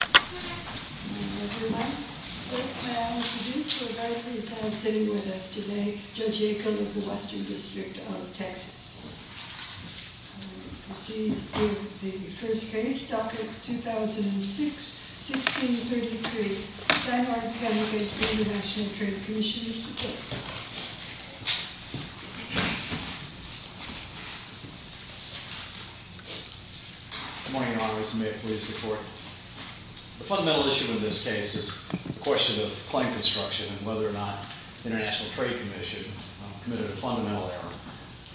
The first case, docket 2006-1633, San Juan County v. International Trade Commissioners. The fundamental issue in this case is a question of claim construction and whether or not the International Trade Commission committed a fundamental error.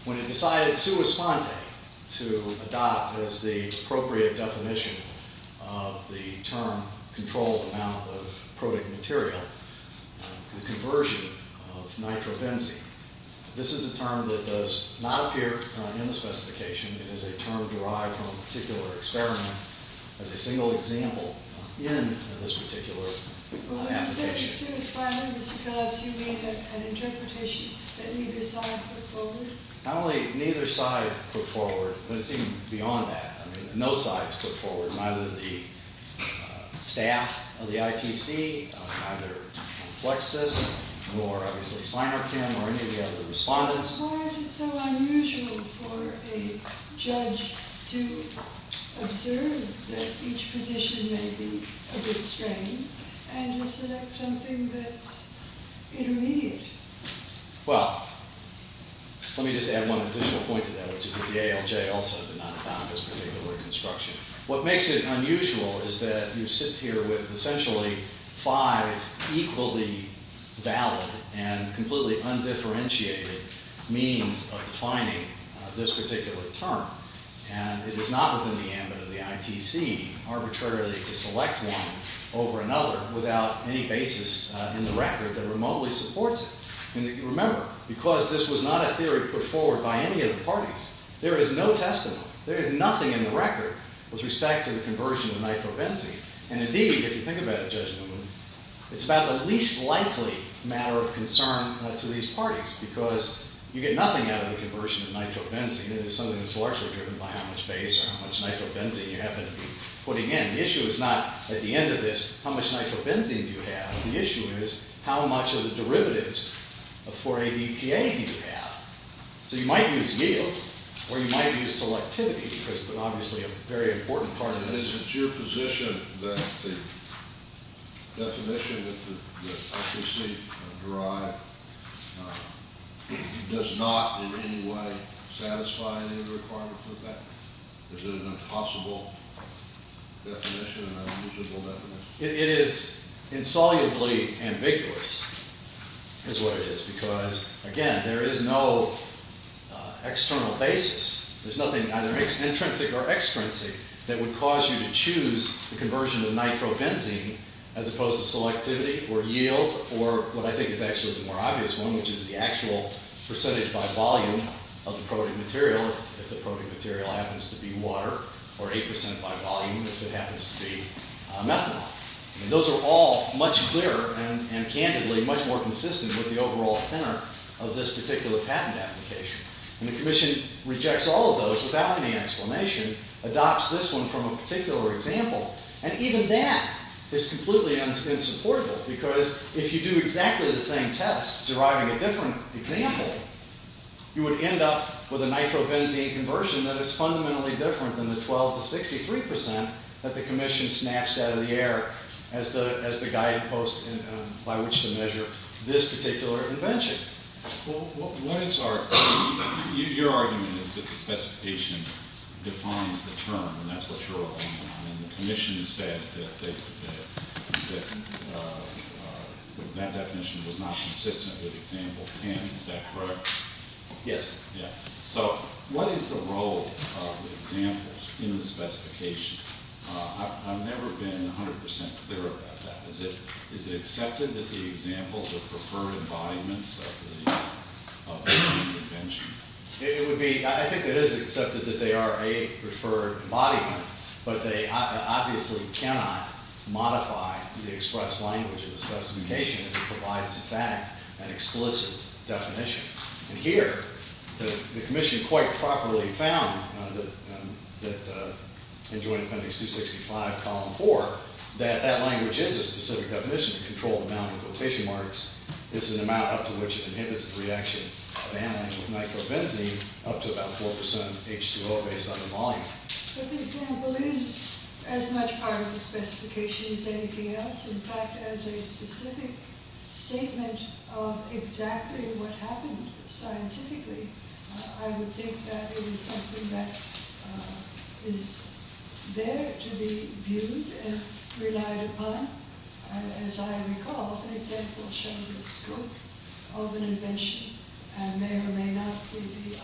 When it decided sui sponte to adopt as the appropriate definition of the term controlled amount of protic material, the conversion of nitrobenzene. This is a term that does not appear in the specification. It is a term derived from a particular experiment as a single example in this particular application. When you say sui sponte, Mr. Phillips, you mean an interpretation that neither side put forward? Not only neither side put forward, but it's even beyond that. I mean, no side's put forward, neither the staff of the ITC, neither FLEXUS, nor obviously Synorgchem, or any of the other respondents. Why is it so unusual for a judge to observe that each position may be a bit strange and to select something that's intermediate? Well, let me just add one additional point to that, which is that the ALJ also did not adopt this particular construction. What makes it unusual is that you sit here with essentially five equally valid and completely undifferentiated means of defining this particular term. And it is not within the ambit of the ITC arbitrarily to select one over another without any basis in the record that remotely supports it. And remember, because this was not a theory put forward by any of the parties, there is no testimony. There is nothing in the record with respect to the conversion of nitrobenzene. And indeed, if you think about it, Judge Newman, it's about the least likely matter of concern to these parties, because you get nothing out of the conversion of nitrobenzene. It is something that's largely driven by how much base or how much nitrobenzene you happen to be putting in. And the issue is not, at the end of this, how much nitrobenzene do you have? The issue is, how much of the derivatives of 4-ADPA do you have? So you might use yield, or you might use selectivity, because it's obviously a very important part of this. Is it your position that the definition that the ITC derived does not in any way satisfy any of the requirements of that? Is it an impossible definition, an unusable definition? It is insolubly ambiguous, is what it is, because, again, there is no external basis. There's nothing either intrinsic or extrinsic that would cause you to choose the conversion of nitrobenzene, as opposed to selectivity, or yield, or what I think is actually the more obvious one, which is the actual percentage by volume of the protein material, if the protein material happens to be water, or 8% by volume if it happens to be methanol. Those are all much clearer and, candidly, much more consistent with the overall tenor of this particular patent application. And the Commission rejects all of those without any explanation, adopts this one from a particular example, and even that is completely unsupportable, because if you do exactly the same test, deriving a different example, you would end up with a nitrobenzene conversion that is fundamentally different than the 12% to 63% that the Commission snatched out of the air as the guiding post by which to measure this particular invention. Well, what is our, your argument is that the specification defines the term, and that's what you're arguing on, and the Commission said that that definition was not consistent with example 10, is that correct? Yes. Yeah. So, what is the role of the examples in the specification? I've never been 100% clear about that. Is it accepted that the examples are preferred embodiments of the invention? It would be, I think it is accepted that they are a preferred embodiment, but they obviously cannot modify the expressed language of the specification if it provides, in fact, an explicit definition. And here, the Commission quite properly found that, in Joint Appendix 265, column 4, that that language is a specific definition to control the amount of quotation marks. It's an amount up to which it inhibits the reaction of anion with nitrobenzene up to about 4% H2O based on the volume. But the example is as much part of the specification as anything else. In fact, as a specific statement of exactly what happened scientifically, I would think that it is something that is there to be viewed and relied upon. As I recall, the example showed the scope of an invention, and may or may not be the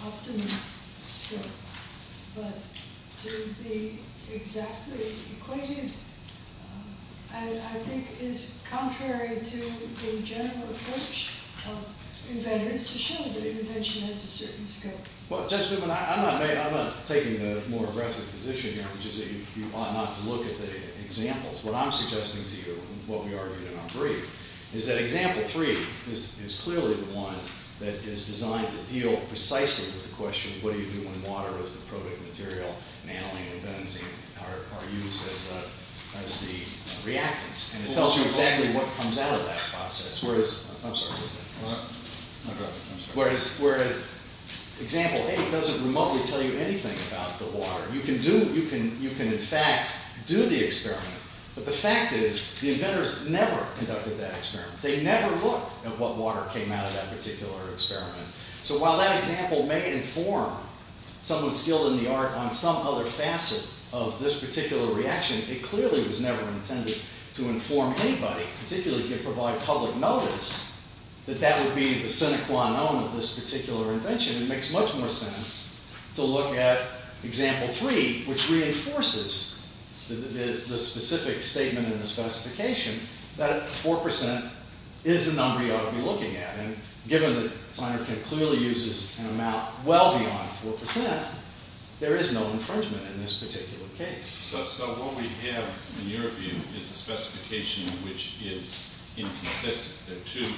one to be exactly equated, and I think is contrary to the general approach of inventors to show that an invention has a certain scope. Well, Judge Whitman, I'm not taking the more aggressive position here, which is that you ought not to look at the examples. What I'm suggesting to you, and what we argued in our brief, is that example 3 is clearly the one that is designed to deal precisely with the question, what do you do when water is the proteic material, and anion and benzene are used as the reactants? And it tells you exactly what comes out of that process, whereas example 8 doesn't remotely tell you anything about the water. You can in fact do the experiment, but the fact is the inventors never conducted that experiment. They never looked at what water came out of that particular experiment. So while that example may inform someone skilled in the art on some other facet of this particular reaction, it clearly was never intended to inform anybody, particularly if you provide public notice, that that would be the sine qua non of this particular invention. It makes much more sense to look at example 3, which reinforces the specific statement in the specification that 4% is the number you ought to be looking at. And given that signer can clearly use this amount well beyond 4%, there is no infringement in this particular case. So what we have in your view is a specification which is inconsistent. There are two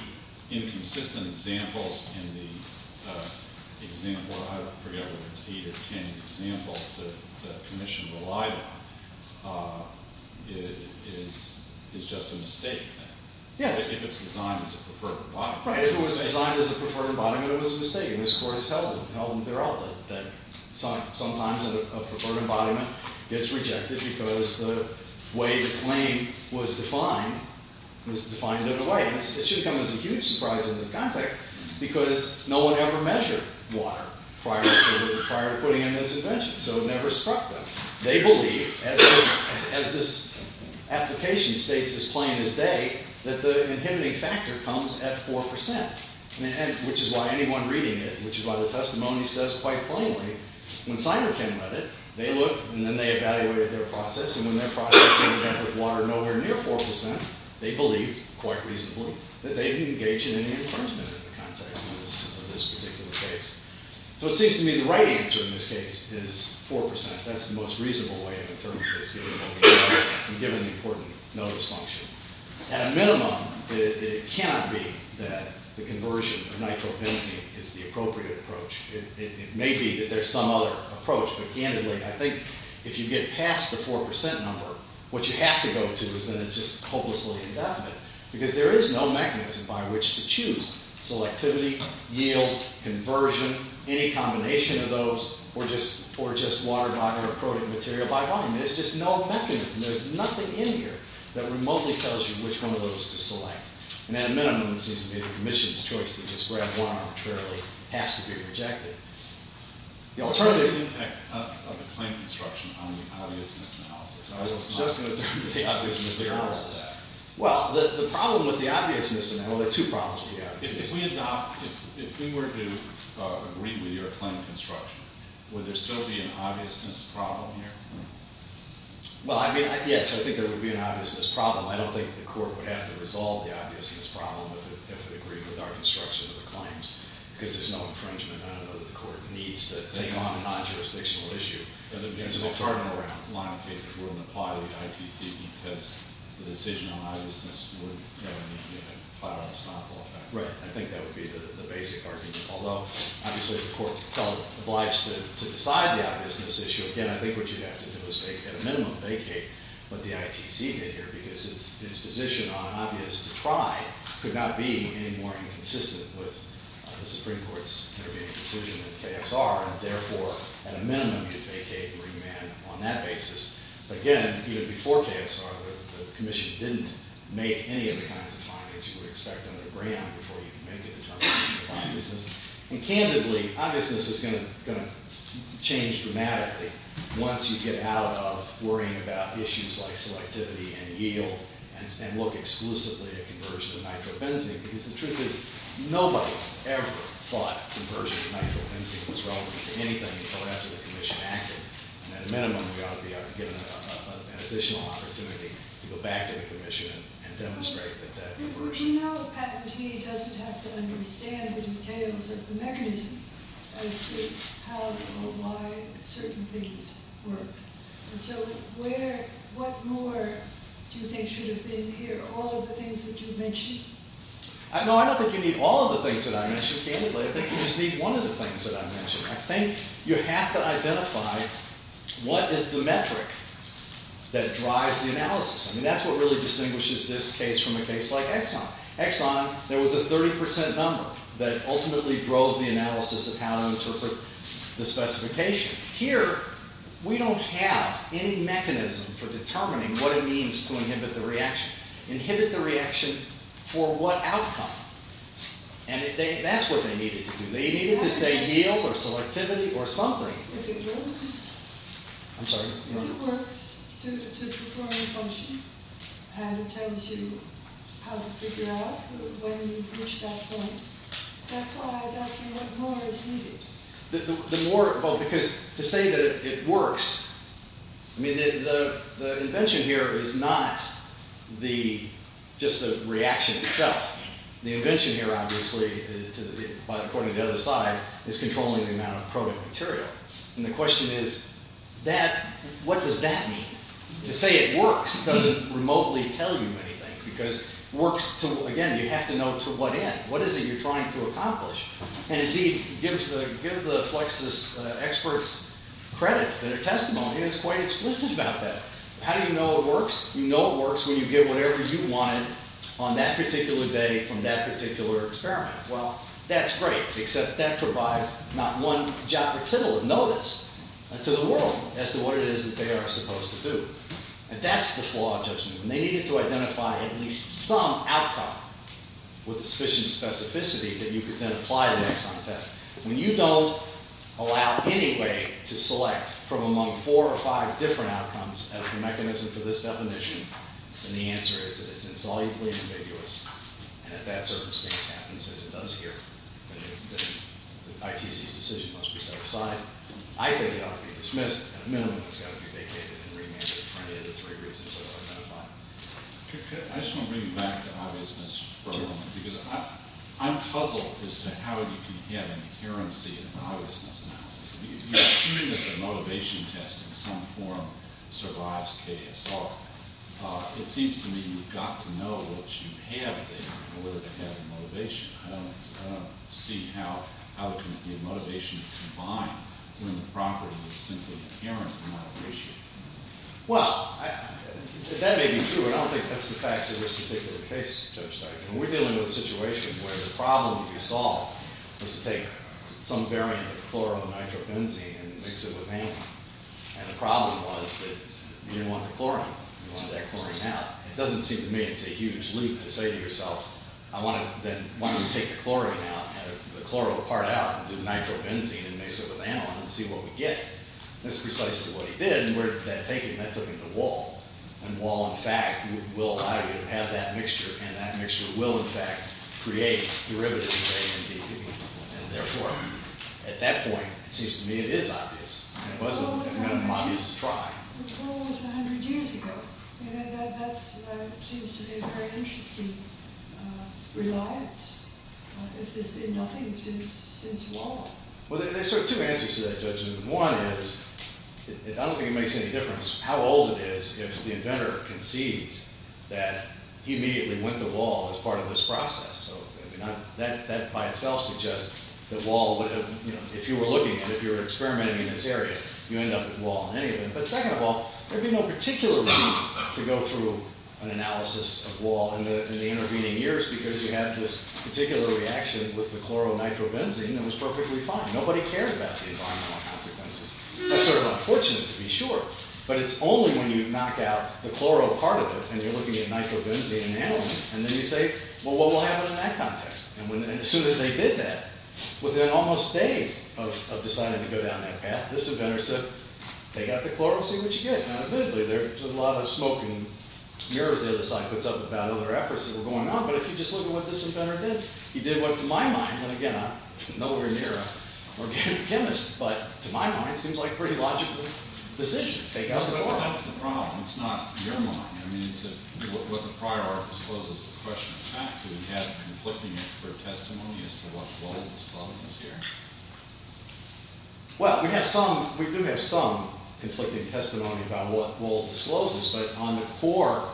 inconsistent examples in the example, I forget whether it's 8 or 10 examples that the commission relied on. It is just a mistake then. Yes. If it's designed as a preferred embodiment. Right. If it was designed as a preferred embodiment, it was a mistake, and this court has held them to their own. That sometimes a preferred embodiment gets rejected because the way the claim was defined was defined in a way. And this should come as a huge surprise in this context, because no one ever measured water prior to putting in this invention, so it never struck them. They believe, as this application states as plain as day, that the inhibiting factor comes at 4%, which is why anyone reading it, which is why the testimony says quite plainly, when signer came at it, they looked and then they evaluated their process, and when their process ended up with water nowhere near 4%, they believed, quite reasonably, that they didn't engage in any infringement in the context of this particular case. So it seems to me the right answer in this case is 4%. That's the most reasonable way of interpreting this, given the important notice function. At a minimum, it cannot be that the conversion of nitrobenzene is the appropriate approach. It may be that there's some other approach, but candidly, I think if you get past the 4% number, what you have to go to is that it's just hopelessly indefinite, because there isn't any combination of those, or just water by water or protein material by volume. There's just no mechanism. There's nothing in here that remotely tells you which one of those to select. And at a minimum, it seems to me that the Commission's choice to just grab one arbitrarily has to be rejected. The alternative... What's the impact of the plain construction on the obviousness analysis? I was just going to turn to the obviousness analysis. Well, the problem with the obviousness analysis... Well, there are two problems with the obviousness analysis. If we adopt... If we were to agree with your claim construction, would there still be an obviousness problem here? Well, I mean, yes. I think there would be an obviousness problem. I don't think the court would have to resolve the obviousness problem if it agreed with our construction of the claims, because there's no infringement. I don't know that the court needs to take on a non-jurisdictional issue. And there'd be a little burden around. A lot of cases wouldn't apply to the IPC because the decision on obviousness would have a five-hour stop. Right. I think that would be the basic argument. Although, obviously, the court felt obliged to decide the obviousness issue. Again, I think what you'd have to do is at a minimum vacate what the ITC did here, because its position on obvious to try could not be any more inconsistent with the Supreme Court's intervening decision in KSR. And therefore, at a minimum, you'd vacate and remand on that basis. But again, even before KSR, the commission didn't make any of the kinds of findings you would expect under Graham before you could make a determination of obviousness. And candidly, obviousness is going to change dramatically once you get out of worrying about issues like selectivity and yield and look exclusively at conversion of nitrobenzene. Because the truth is, nobody ever thought conversion of nitrobenzene was relevant to anything until after the commission acted. And at a minimum, we ought to be able to get an additional opportunity to go back to the commission and demonstrate that that conversion is relevant. But we know a patentee doesn't have to understand the details of the mechanism as to how or why certain things work. And so what more do you think should have been here? All of the things that you mentioned? No, I don't think you need all of the things that I mentioned, candidly. I think you just need one of the things that I mentioned. I think you have to identify what is the metric that drives the analysis. I mean, that's what really distinguishes this case from a case like Exxon. Exxon, there was a 30% number that ultimately drove the analysis of how to interpret the specification. Here, we don't have any mechanism for determining what it means to inhibit the reaction. Inhibit the reaction for what outcome? And that's what they needed to do. They needed to say yield or selectivity or something. If it works? I'm sorry? If it works to perform a function and it tells you how to figure out when you reach that point. That's why I was asking what more is needed. The more, well, because to say that it works, I mean, the invention here is not just the reaction itself. The invention here, obviously, according to the other side, is controlling the amount of product material. And the question is, what does that mean? To say it works doesn't remotely tell you anything. Because again, you have to know to what end. What is it you're trying to accomplish? And indeed, give the FLEXUS experts credit for their testimony. How do you know it works? You know it works when you get whatever you wanted on that particular day from that particular experiment. Well, that's great, except that provides not one jot or tittle of notice to the world as to what it is that they are supposed to do. And that's the flaw of judgment. And they needed to identify at least some outcome with sufficient specificity that you could then apply an axon test. When you don't allow any way to select from among four or five different outcomes as the mechanism for this definition, then the answer is that it's insolubly ambiguous. And if that circumstance happens, as it does here, then ITC's decision must be set aside. I think it ought to be dismissed. At a minimum, it's got to be vacated and remanded for any of the three reasons that I've identified. I just want to bring you back to obviousness for a moment. Because I'm puzzled as to how you can have an adherency in an obviousness analysis. You're assuming that the motivation test in some form survives KSR. It seems to me you've got to know what you have there in order to have the motivation. I don't see how the motivation is combined when the property is simply inherent in the motivation. Well, that may be true. I don't think that's the facts of this particular case, Judge Stark. We're dealing with a situation where the problem you solved was to take some variant of the chloro-nitrobenzene and mix it with anion. And the problem was that you didn't want the chlorine. You wanted that chlorine out. It doesn't seem to me it's a huge leap to say to yourself, I want to then take the chlorine out, the chloro part out, and do nitrobenzene and mix it with anion and see what we get. That's precisely what he did. And we're thinking that took him to Wahl. And Wahl, in fact, will have that mixture. And that mixture will, in fact, create derivatives of A and B. And therefore, at that point, it seems to me it is obvious. And it was an obvious try. But Wahl was 100 years ago. And that seems to be a very interesting reliance, if there's been nothing since Wahl. Well, there are sort of two answers to that, Judge. One is, I don't think it makes any difference how old it is if the inventor concedes that he immediately went to Wahl as part of this process. So that by itself suggests that Wahl would have, you know, if you were looking at it, if you were experimenting in this area, you end up with Wahl in any event. But second of all, there would be no particular reason to go through an analysis of Wahl in the intervening years because you have this particular reaction with the chloro-nitrobenzene that was perfectly fine. Nobody cares about the environmental consequences. That's sort of unfortunate, to be sure. But it's only when you knock out the chloro part of it, and you're looking at nitrobenzene and aniline, and then you say, well, what will happen in that context? And as soon as they did that, within almost days of deciding to go down that path, this inventor said, take out the chloro, see what you get. Now, admittedly, there's a lot of smoke and mirrors the other side puts up about other efforts that were going on. But if you just look at what this inventor did, he did what, to my mind, and again, I'm nowhere near an organic chemist, but to my mind, it seems like a pretty logical decision. Take out the chloro. But that's the problem. It's not your mind. I mean, what the prior art discloses is a question of facts. We have conflicting expert testimony as to what Wahl discloses here. Well, we do have some conflicting testimony about what Wahl discloses, but on the core,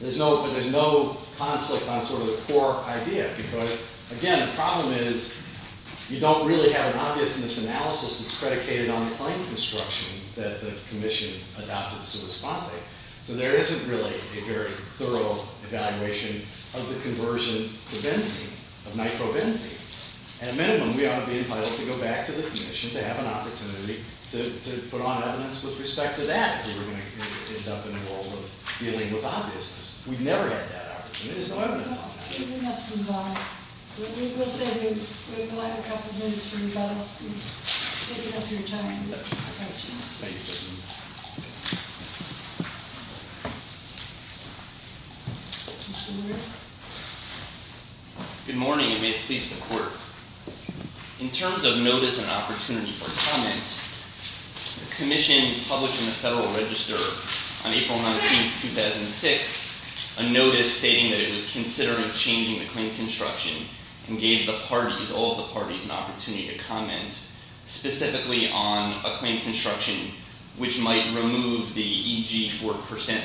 there's no conflict on sort of the core idea because, again, the problem is you don't really have an obviousness analysis that's predicated on the plane construction that the commission adopted so responsibly. So there isn't really a very thorough evaluation of the conversion to benzene, of nitrobenzene. At a minimum, we ought to be entitled to go back to the commission to have an opportunity to put on evidence with respect to that if we were going to end up in a world of dealing with obviousness. There's no evidence on that. We must move on. We will have a couple of minutes for you both to pick up your time and questions. Good morning, and may it please the Court. In terms of notice and opportunity for comment, the commission published in the Federal Register on April 19, 2006, a notice stating that it was considering changing the claim construction and gave the parties, all the parties, an opportunity to comment specifically on a claim construction which might remove the EG 4%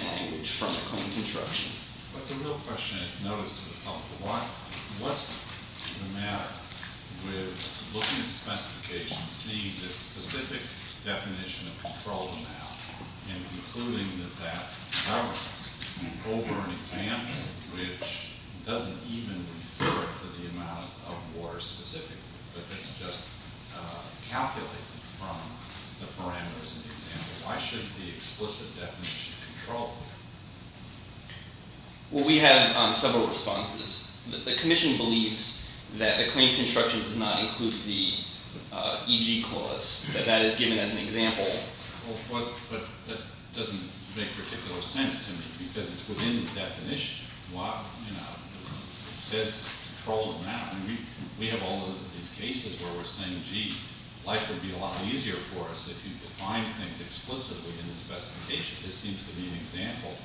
language from the claim construction. But the real question is notice to the public. What's the matter with looking at the specifications and seeing the specific definition of controlled amount and concluding that that covers over an example which doesn't even refer to the amount of water specifically, but that's just calculated from the parameters in the example. Why shouldn't the explicit definition of controlled amount? Well, we have several responses. The commission believes that the claim construction does not include the EG clause, that that is given as an example. But that doesn't make particular sense to me because it's within the definition. What, you know, says controlled amount? I mean, we have all of these cases where we're saying, gee, life would be a lot easier for us if you defined things explicitly in the specification. This seems to be an example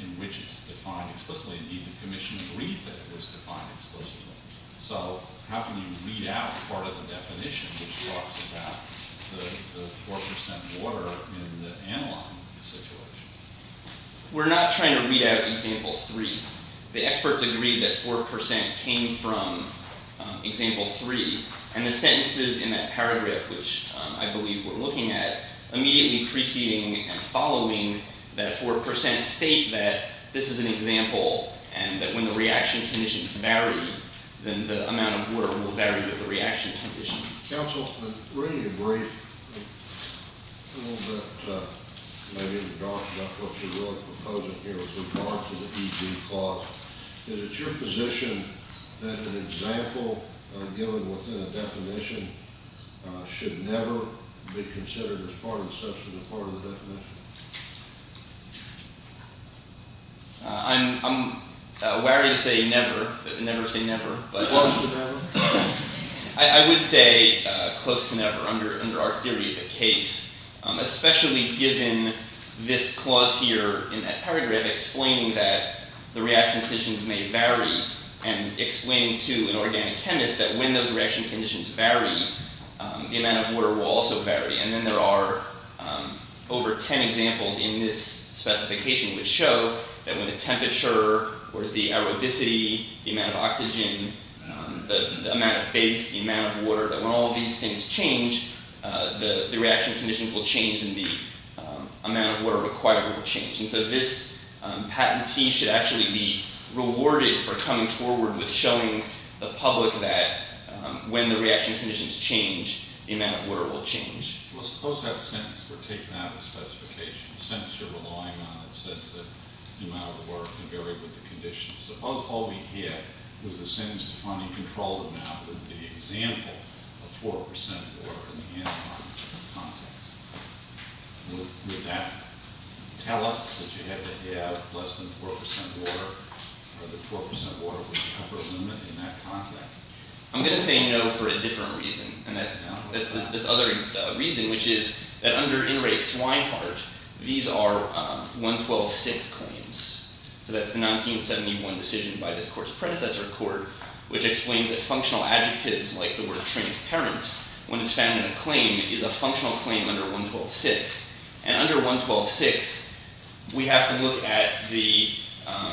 in which it's defined explicitly. Indeed, the commission agreed that it was defined explicitly. So how can you read out part of the definition which talks about the 4% water in the analog situation? We're not trying to read out example 3. The experts agreed that 4% came from example 3. And the sentences in that paragraph, which I believe we're looking at, immediately preceding and following that 4% state that this is an example and that when the reaction conditions vary, then the amount of water will vary with the reaction conditions. Counsel, I'm ready to break a little bit, maybe, in regards to what you're really proposing here with regards to the EG clause. Is it your position that an example given within a definition should never be considered as part of the definition? I'm wary to say never, never say never. Close to never? I would say close to never under our theory of the case, especially given this clause here in that paragraph explaining that the reaction conditions may vary and explaining to an organic chemist that when those reaction conditions vary, the amount of water will also vary. And then there are over 10 examples in this specification which show that when the temperature or the aerobicity, the amount of oxygen, the amount of base, the amount of water, that when all these things change, the reaction conditions will change and the amount of water required will change. And so this patentee should actually be rewarded for coming forward with showing the public that when the reaction conditions change, the amount of water will change. Well, suppose that sentence were taken out of the specification, a sentence you're relying on that says that the amount of water can vary with the conditions. Suppose all we get was a sentence defining controlled amount with the example of 4% water in the anti-carbon context. Would that tell us that you had to have less than 4% water or that 4% water was the upper limit in that context? I'm going to say no for a different reason. And that's this other reason, which is that under In Re Swineheart, these are 112.6 claims. So that's the 1971 decision by this court's predecessor court which explains that functional adjectives like the word transparent when it's found in a claim is a functional claim under 112.6. And under 112.6, we have to look at the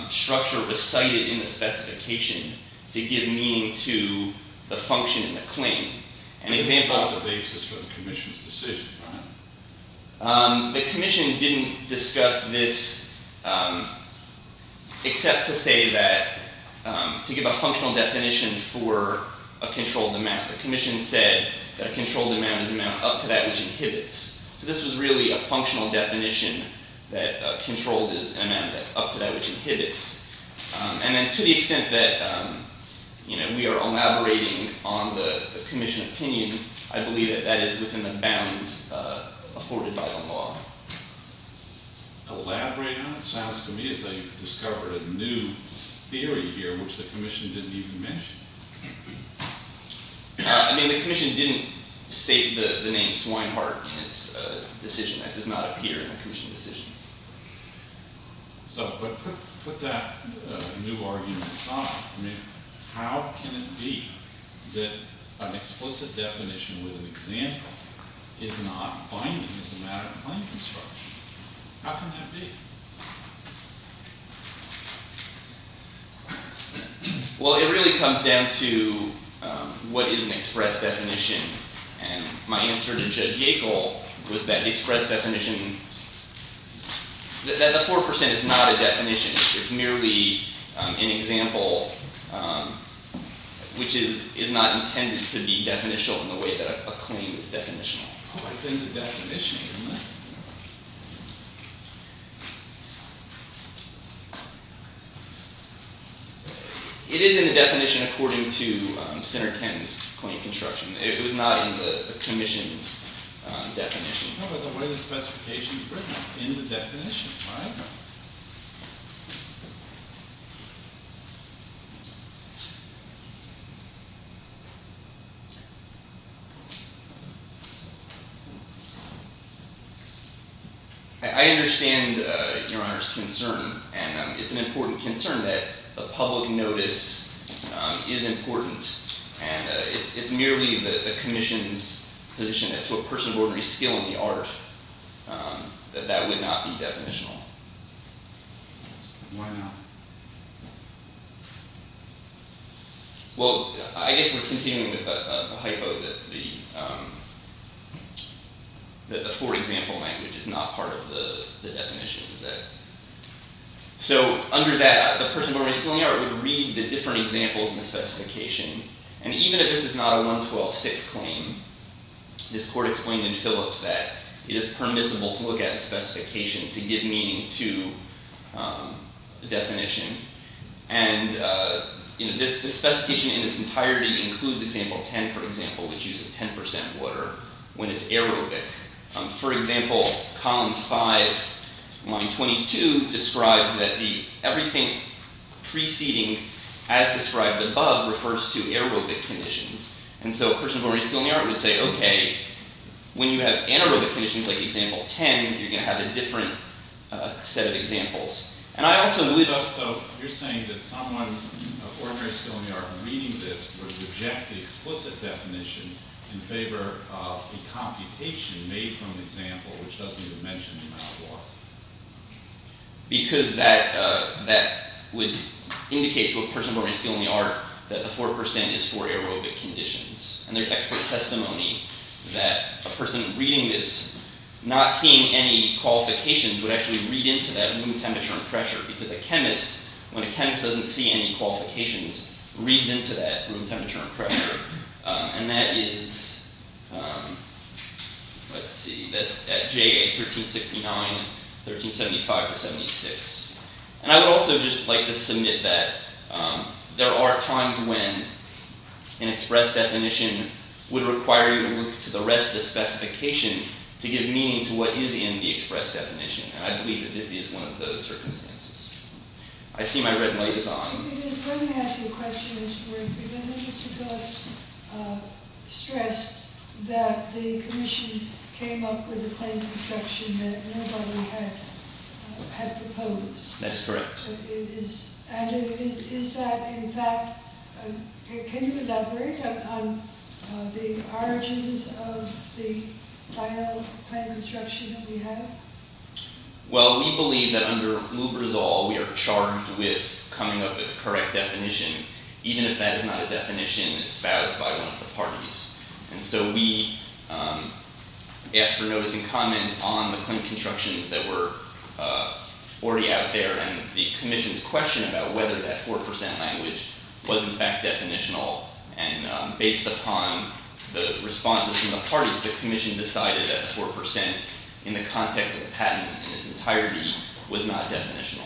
structure recited in the specification to give meaning to the function in the claim. An example of the basis for the commission's decision. The commission didn't discuss this except to say that to give a functional definition for a controlled amount. The commission said that a controlled amount is an amount up to that which inhibits. So this was really a functional definition that controlled is an amount up to that which inhibits. And then to the extent that we are elaborating on the commission opinion, I believe that that is within the bounds afforded by the law. Elaborate on it? It sounds to me as though you've discovered a new theory here which the commission didn't even mention. I mean, the commission didn't state the name Swineheart in its decision. That does not appear in a commission decision. So put that new argument aside. I mean, how can it be that an explicit definition with an example is not binding as a matter of claim construction? How can that be? Well, it really comes down to what is an express definition. And my answer to Judge Yackel was that the express definition, that the 4% is not a definition. It's merely an example which is not intended to be definitional in the way that a claim is definitional. It's in the definition, isn't it? It is in the definition according to Senator Kenton's claim construction. It was not in the commission's definition. How about the way the specification is written? It's in the definition, right? I understand, Your Honor, his concern. And it's an important concern that a public notice is important. And it's merely the commission's position that to a person of ordinary skill in the art, that that would not be definitional. Why not? Well, I guess we're continuing with a hypo that the for example language is not part of the definition, is it? So under that, the person of ordinary skill in the art would read the different examples in the specification. And even if this is not a 112-6 claim, this court explained in Phillips that it is permissible to look at a specification to give meaning to the definition. And this specification in its entirety includes example 10, for example, which uses 10% water when it's aerobic. For example, column 5, line 22 describes that everything preceding as described above refers to aerobic conditions. And so a person of ordinary skill in the art would say, OK, when you have anaerobic conditions like example 10, you're going to have a different set of examples. And I also believe that's so. You're saying that someone of ordinary skill in the art reading this would reject the explicit definition in favor of the computation made from the example, which doesn't even mention the amount of water. Because that would indicate to a person of ordinary skill in the art that the 4% is for aerobic conditions. And there's expert testimony that a person reading this, not seeing any qualifications, would actually read into that room temperature and pressure. Because a chemist, when a chemist doesn't see any qualifications, reads into that room temperature and pressure. And that is at J, 1369, 1375-76. And I would also just like to submit that there are times when an express definition would require you to look to the rest of the specification to give meaning to what is in the express definition. And I believe that this is one of those circumstances. I see my red light is on. Let me ask you a question. Mr. Phillips stressed that the commission came up with a claim of instruction that nobody had proposed. That is correct. And is that, in fact, can you elaborate on the origins of the final claim of instruction that we have? Well, we believe that under Lou Brizol, we are charged with coming up with the correct definition, even if that is not a definition espoused by one of the parties. And so we asked for notes and comments on the claim of instruction that were already out there. And the commission's question about whether that 4% language was, in fact, definitional. And based upon the responses from the parties, the commission decided that 4%, in the context of patent in its entirety, was not definitional.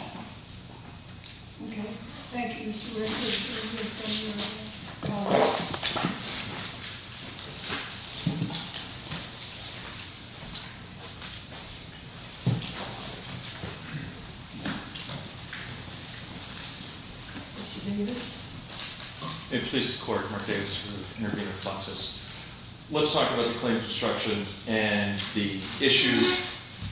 OK. Thank you, Mr. Ritter. Mr. Davis? May it please the court, Mark Davis for the intervening process. Let's talk about the claim of instruction and the issue,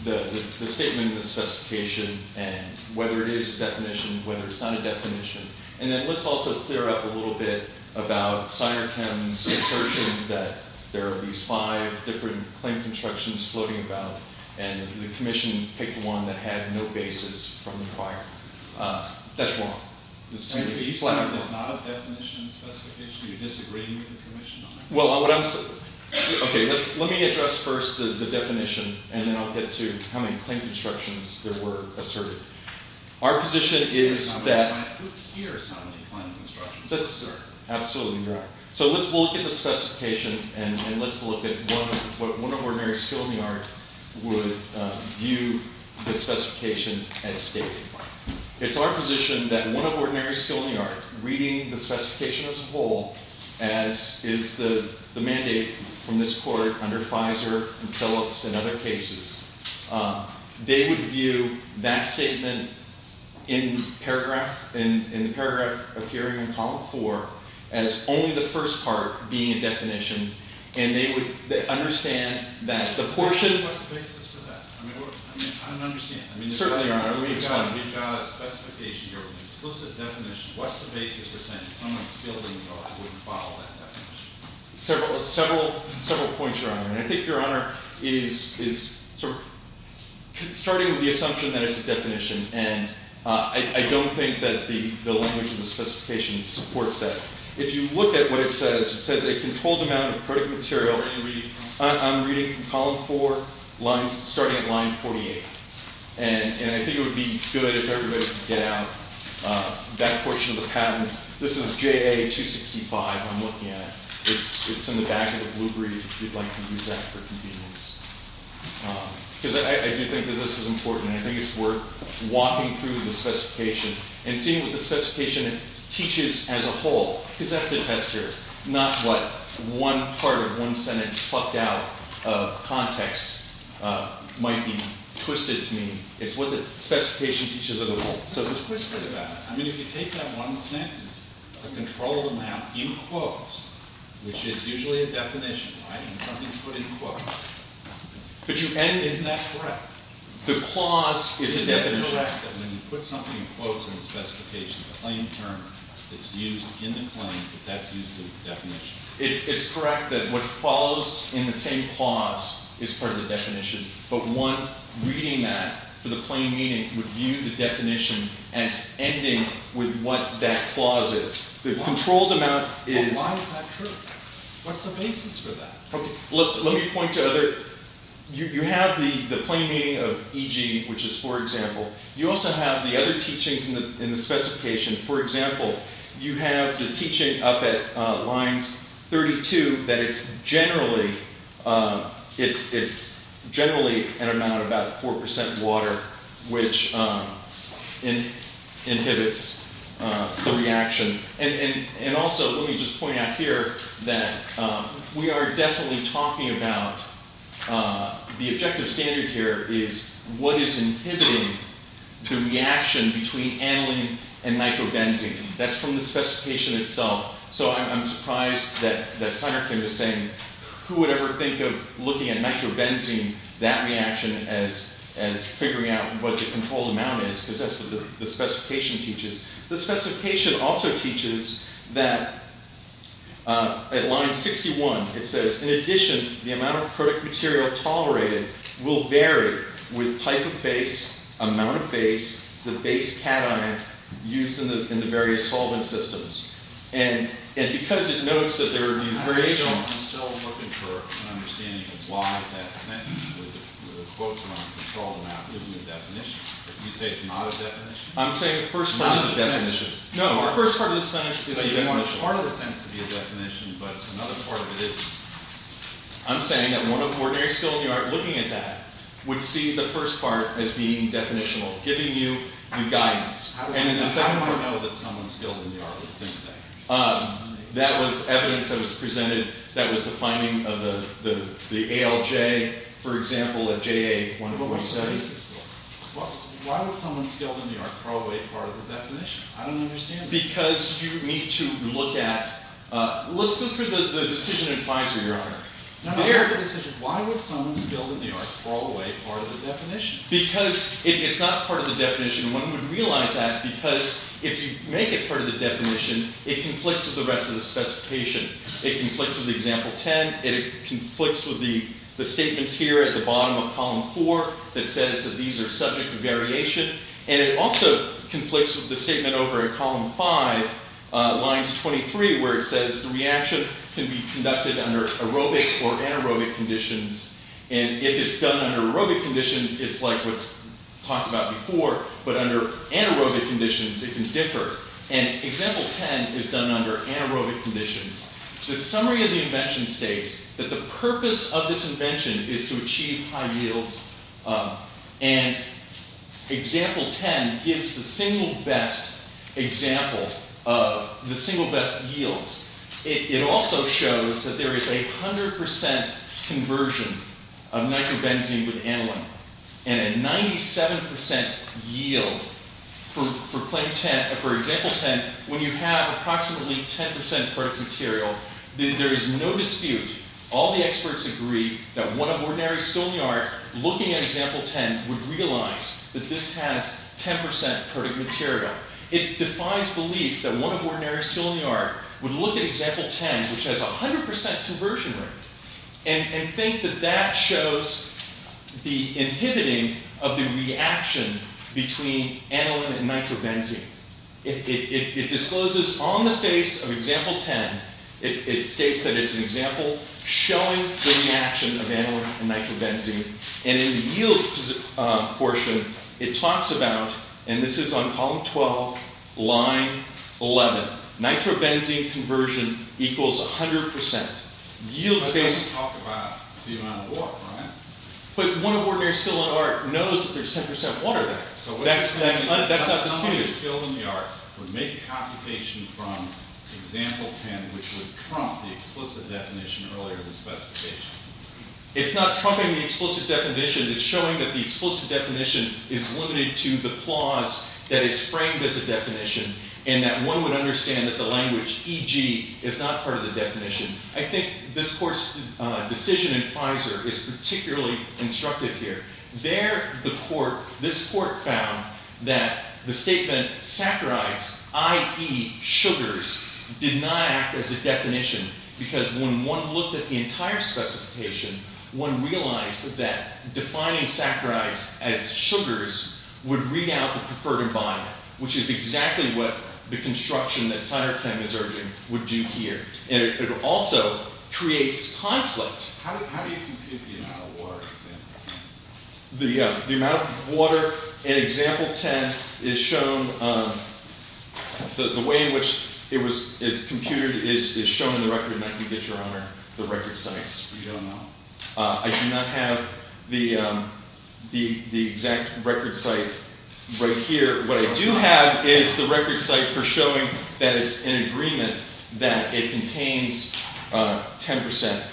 the statement of the specification, and whether it is a definition, whether it's not a definition. And then let's also clear up a little bit about Synerchem's assertion that there are these five different claim constructions floating about, and the commission picked one that had no basis from the prior. That's wrong. Senator Easton, there's not a definition in the specification that you're disagreeing with the commission on. OK. Let me address first the definition, and then I'll get to how many claim constructions there were asserted. Our position is that- Who hears how many claim constructions? That's absurd. Absolutely, you're right. So let's look at the specification, and let's look at what one of ordinary skill in the art would view the specification as stating. It's our position that one of ordinary skill in the art, reading the specification as a whole, as is the mandate from this court under Fizer and Phillips and other cases, they would view that statement in the paragraph appearing in column four as only the first part being a definition, and they would understand that the portion- What's the basis for that? I don't understand. Certainly not. We've got a specification here, an explicit definition. What's the basis for saying someone skilled in the art wouldn't follow that definition? Several points, Your Honor. And I think Your Honor is sort of starting with the assumption that it's a definition, and I don't think that the language in the specification supports that. If you look at what it says, it says a controlled amount of printed material on reading from column four, starting at line 48. And I think it would be good if everybody could get out that portion of the patent. This is JA-265 I'm looking at. It's in the back of the blue brief if you'd like to use that for convenience. Because I do think that this is important, and I think it's worth walking through the specification and seeing what the specification teaches as a whole. Because that's the test here, not what one part of one sentence fucked out of context might be twisted to mean. It's what the specification teaches as a whole. So it's twisted about it. I mean, if you take that one sentence, a controlled amount in quotes, which is usually a definition, right? And something's put in quotes. But you end, isn't that correct? The clause is a definition. Isn't it correct that when you put something in quotes in the specification, the plain term that's used in the claims, that that's used in the definition? It's correct that what follows in the same clause is part of the definition. But one, reading that for the plain meaning would view the definition as ending with what that clause is. The controlled amount is. But why is that true? What's the basis for that? Let me point to other. You have the plain meaning of e.g., which is for example. You also have the other teachings in the specification. For example, you have the teaching up at lines 32 that it's generally an amount about 4% water, which inhibits the reaction. And also, let me just point out here that we are definitely talking about the objective standard here is what is inhibiting the reaction between aniline and nitrobenzene. That's from the specification itself. So I'm surprised that Seiner came to saying, who would ever think of looking at nitrobenzene, that reaction as figuring out what the controlled amount is. Because that's what the specification teaches. The specification also teaches that at line 61, it says, in addition, the amount of product material tolerated will vary with type of base, amount of base, the base cation used in the various solvent systems. And because it notes that there are new variations. I'm still looking for an understanding of why that sentence with the quotes around controlled amount isn't a definition. You say it's not a definition? I'm saying the first part of the definition. No, our first part of the sentence is a definition. So you want part of the sentence to be a definition, but another part of it isn't. I'm saying that ordinary skilled in the art looking at that would see the first part as being definitional, giving you the guidance. And in the second part. How do I know that someone skilled in the art would think that? That was evidence that was presented. That was the finding of the ALJ, for example, at JA 147. Why would someone skilled in the art throw away part of the definition? I don't understand that. Because you need to look at, let's look for the decision advisor, Your Honor. Why would someone skilled in the art throw away part of the definition? Because if it's not part of the definition, one would realize that because if you make it part of the definition, it conflicts with the rest of the specification. It conflicts with example 10. It conflicts with the statements here at the bottom of column four that says that these are subject to variation. And it also conflicts with the statement over in column five, lines 23, where it says the reaction can be conducted under aerobic or anaerobic conditions. And if it's done under aerobic conditions, it's like what's talked about before. But under anaerobic conditions, it can differ. And example 10 is done under anaerobic conditions. The summary of the invention states that the purpose of this invention is to achieve high yields. And example 10 gives the single best example of the single best yields. It also shows that there is a 100% conversion of nitrobenzene with aniline. And a 97% yield for example 10, when you have approximately 10% perfect material, there is no dispute. All the experts agree that one of ordinary still in the art looking at example 10 would realize that this has 10% perfect material. It defies belief that one of ordinary still in the art would look at example 10, which has 100% conversion rate, and think that that shows the inhibiting of the reaction between aniline and nitrobenzene. It discloses on the face of example 10, it states that it's an example showing the reaction of aniline and nitrobenzene. And in the yield portion, it talks about, and this is on column 12, line 11, nitrobenzene conversion equals 100%. Yields based. But it doesn't talk about the amount of water, right? But one of ordinary still in the art knows that there's 10% water there. That's not disputed. So what does it mean that someone who's still in the art would make a computation from example 10, which would trump the explicit definition earlier in the specification? It's not trumping the explicit definition. It's showing that the explicit definition is limited to the clause that is framed as a definition, and that one would understand that the language, e.g., is not part of the definition. I think this court's decision in Pfizer is particularly constructive here. This court found that the statement saccharides, i.e., sugars, did not act as a definition because when one looked at the entire specification, one realized that defining saccharides as sugars would read out the preferred environment, which is exactly what the construction that Syrachem is urging would do here. And it also creates conflict. How do you compute the amount of water? The amount of water in example 10 is shown. The way in which it's computed is shown in the record, and I can get your honor the record sites. We don't know. I do not have the exact record site right here. What I do have is the record site for showing that it's an agreement that it contains 10%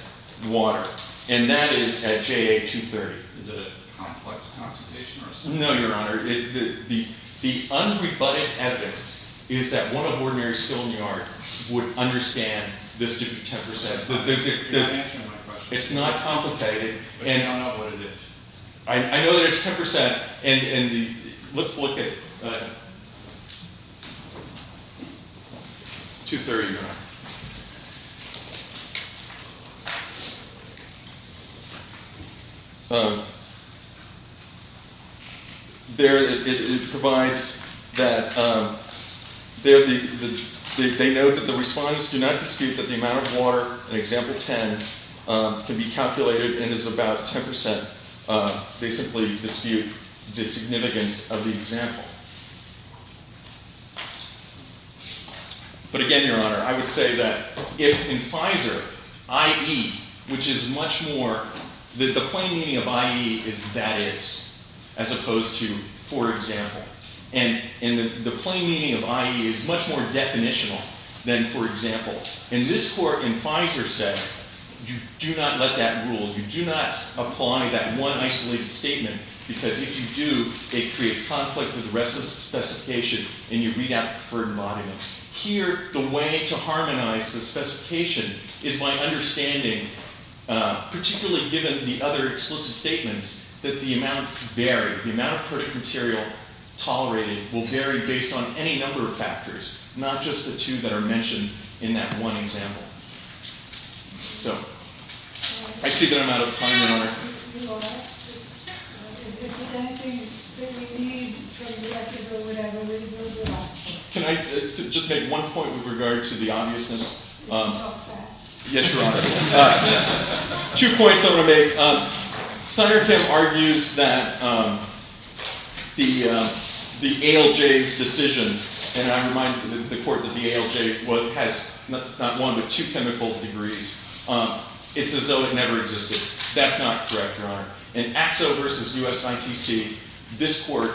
water, and that is at JA 230. Is it a complex computation or something? No, your honor. The unrebutted evidence is that one of ordinary skilled New York would understand this to be 10%. You're not answering my question. It's not complicated. But you don't know what it is. I know that it's 10%, and let's look at it. 230, your honor. They note that the respondents do not dispute that the amount of water in example 10 can be calculated and is about 10%. They simply dispute the significance of the example. But again, your honor, I would say that in FISER, IE, which is much more that the plain meaning of IE is that is as opposed to for example. And the plain meaning of IE is much more definitional than for example. In this court, in FISER, you do not let that rule. You do not apply that one isolated statement, because if you do, it creates conflict with the rest of the specification, and you read out the preferred volume. Here, the way to harmonize the specification is by understanding, particularly given the other explicit statements, that the amounts vary. The amount of product material tolerated will vary based on any number of factors, not just the two that are mentioned in that one example. So I see that I'm out of time, your honor. Are you all right? If there's anything that we need for the record or whatever, we're the last one. Can I just make one point with regard to the obviousness? You talk fast. Yes, your honor. All right. Two points I want to make. Sonderkamp argues that the ALJ's decision, and I remind the court that the ALJ has not one, but two chemical degrees. It's as though it never existed. That's not correct, your honor. In Axel versus USITC, this court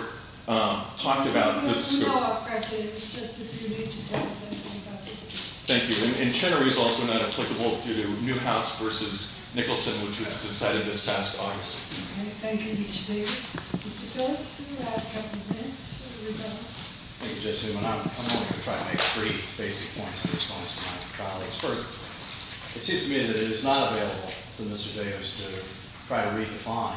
talked about the scope. No, I appreciate it. It's just that you need to tell us something about this. Thank you. And Chenery is also not applicable to Newhouse versus Nicholson, which was decided this past August. Thank you, Mr. Davis. Mr. Phillips, you have a couple of minutes. Thank you, Judge Newman. I'm going to try to make three basic points in response to my colleagues. First, it seems to me that it is not viable for Mr. Davis to try to redefine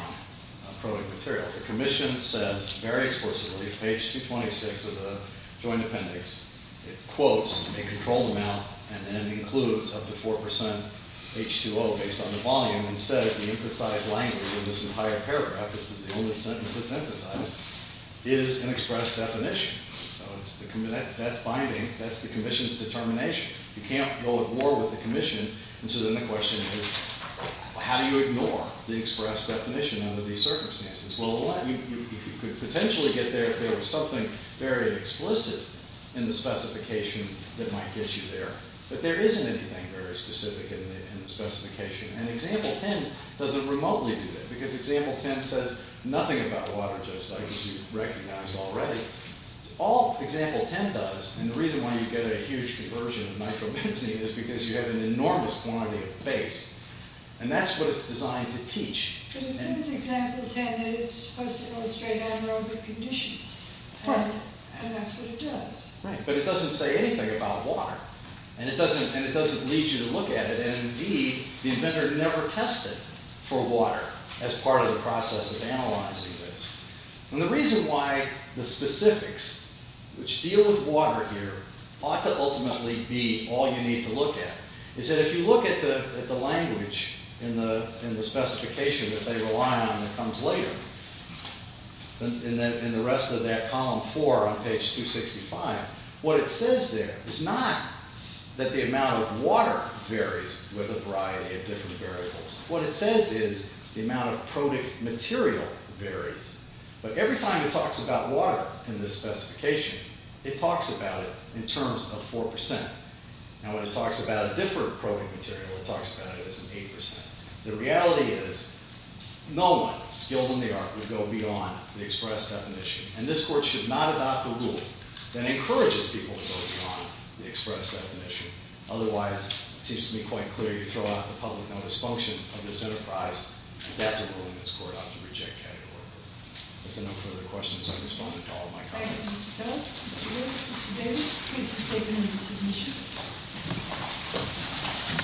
a probing material. The commission says very explicitly, page 226 of the joint appendix, it quotes a controlled amount and then includes up to 4% H2O based on the volume and says the emphasized language in this entire paragraph, this is the only sentence that's emphasized, is an express definition. That's binding. That's the commission's determination. You can't go at war with the commission. And so then the question is, well, how do you ignore the express definition under these circumstances? Well, you could potentially get there if there was something very explicit in the specification that might get you there. But there isn't anything very specific in the specification. And example 10 doesn't remotely do that, because example 10 says nothing about water just like you recognized already. All example 10 does, and the reason why you get a huge conversion of nitrobenzene is because you have an enormous quantity of base. And that's what it's designed to teach. But it says in example 10 that it's supposed to illustrate anaerobic conditions. And that's what it does. But it doesn't say anything about water. And it doesn't lead you to look at it. And indeed, the inventor never tested for water as part of the process of analyzing this. And the reason why the specifics which deal with water here ought to ultimately be all you need to look at is that if you look at the language in the specification that they rely on that comes later, in the rest of that column four on page 265, what it says there is not that the amount of water varies with a variety of different variables. What it says is the amount of protic material varies. But every time it talks about water in this specification, it talks about it in terms of 4%. Now, when it talks about a different protic material, it talks about it as an 8%. The reality is no one skilled in the art would go beyond the express definition. And this court should not adopt a rule that encourages people to go beyond the express definition. Otherwise, it seems to me quite clear you throw out the public notice function of this enterprise. That's a ruling this court ought to reject categorically. If there are no further questions, I respond to all of my colleagues. Thank you, Mr. Phelps, Mr. Hill, Mr. Davis. Please state your name and submission.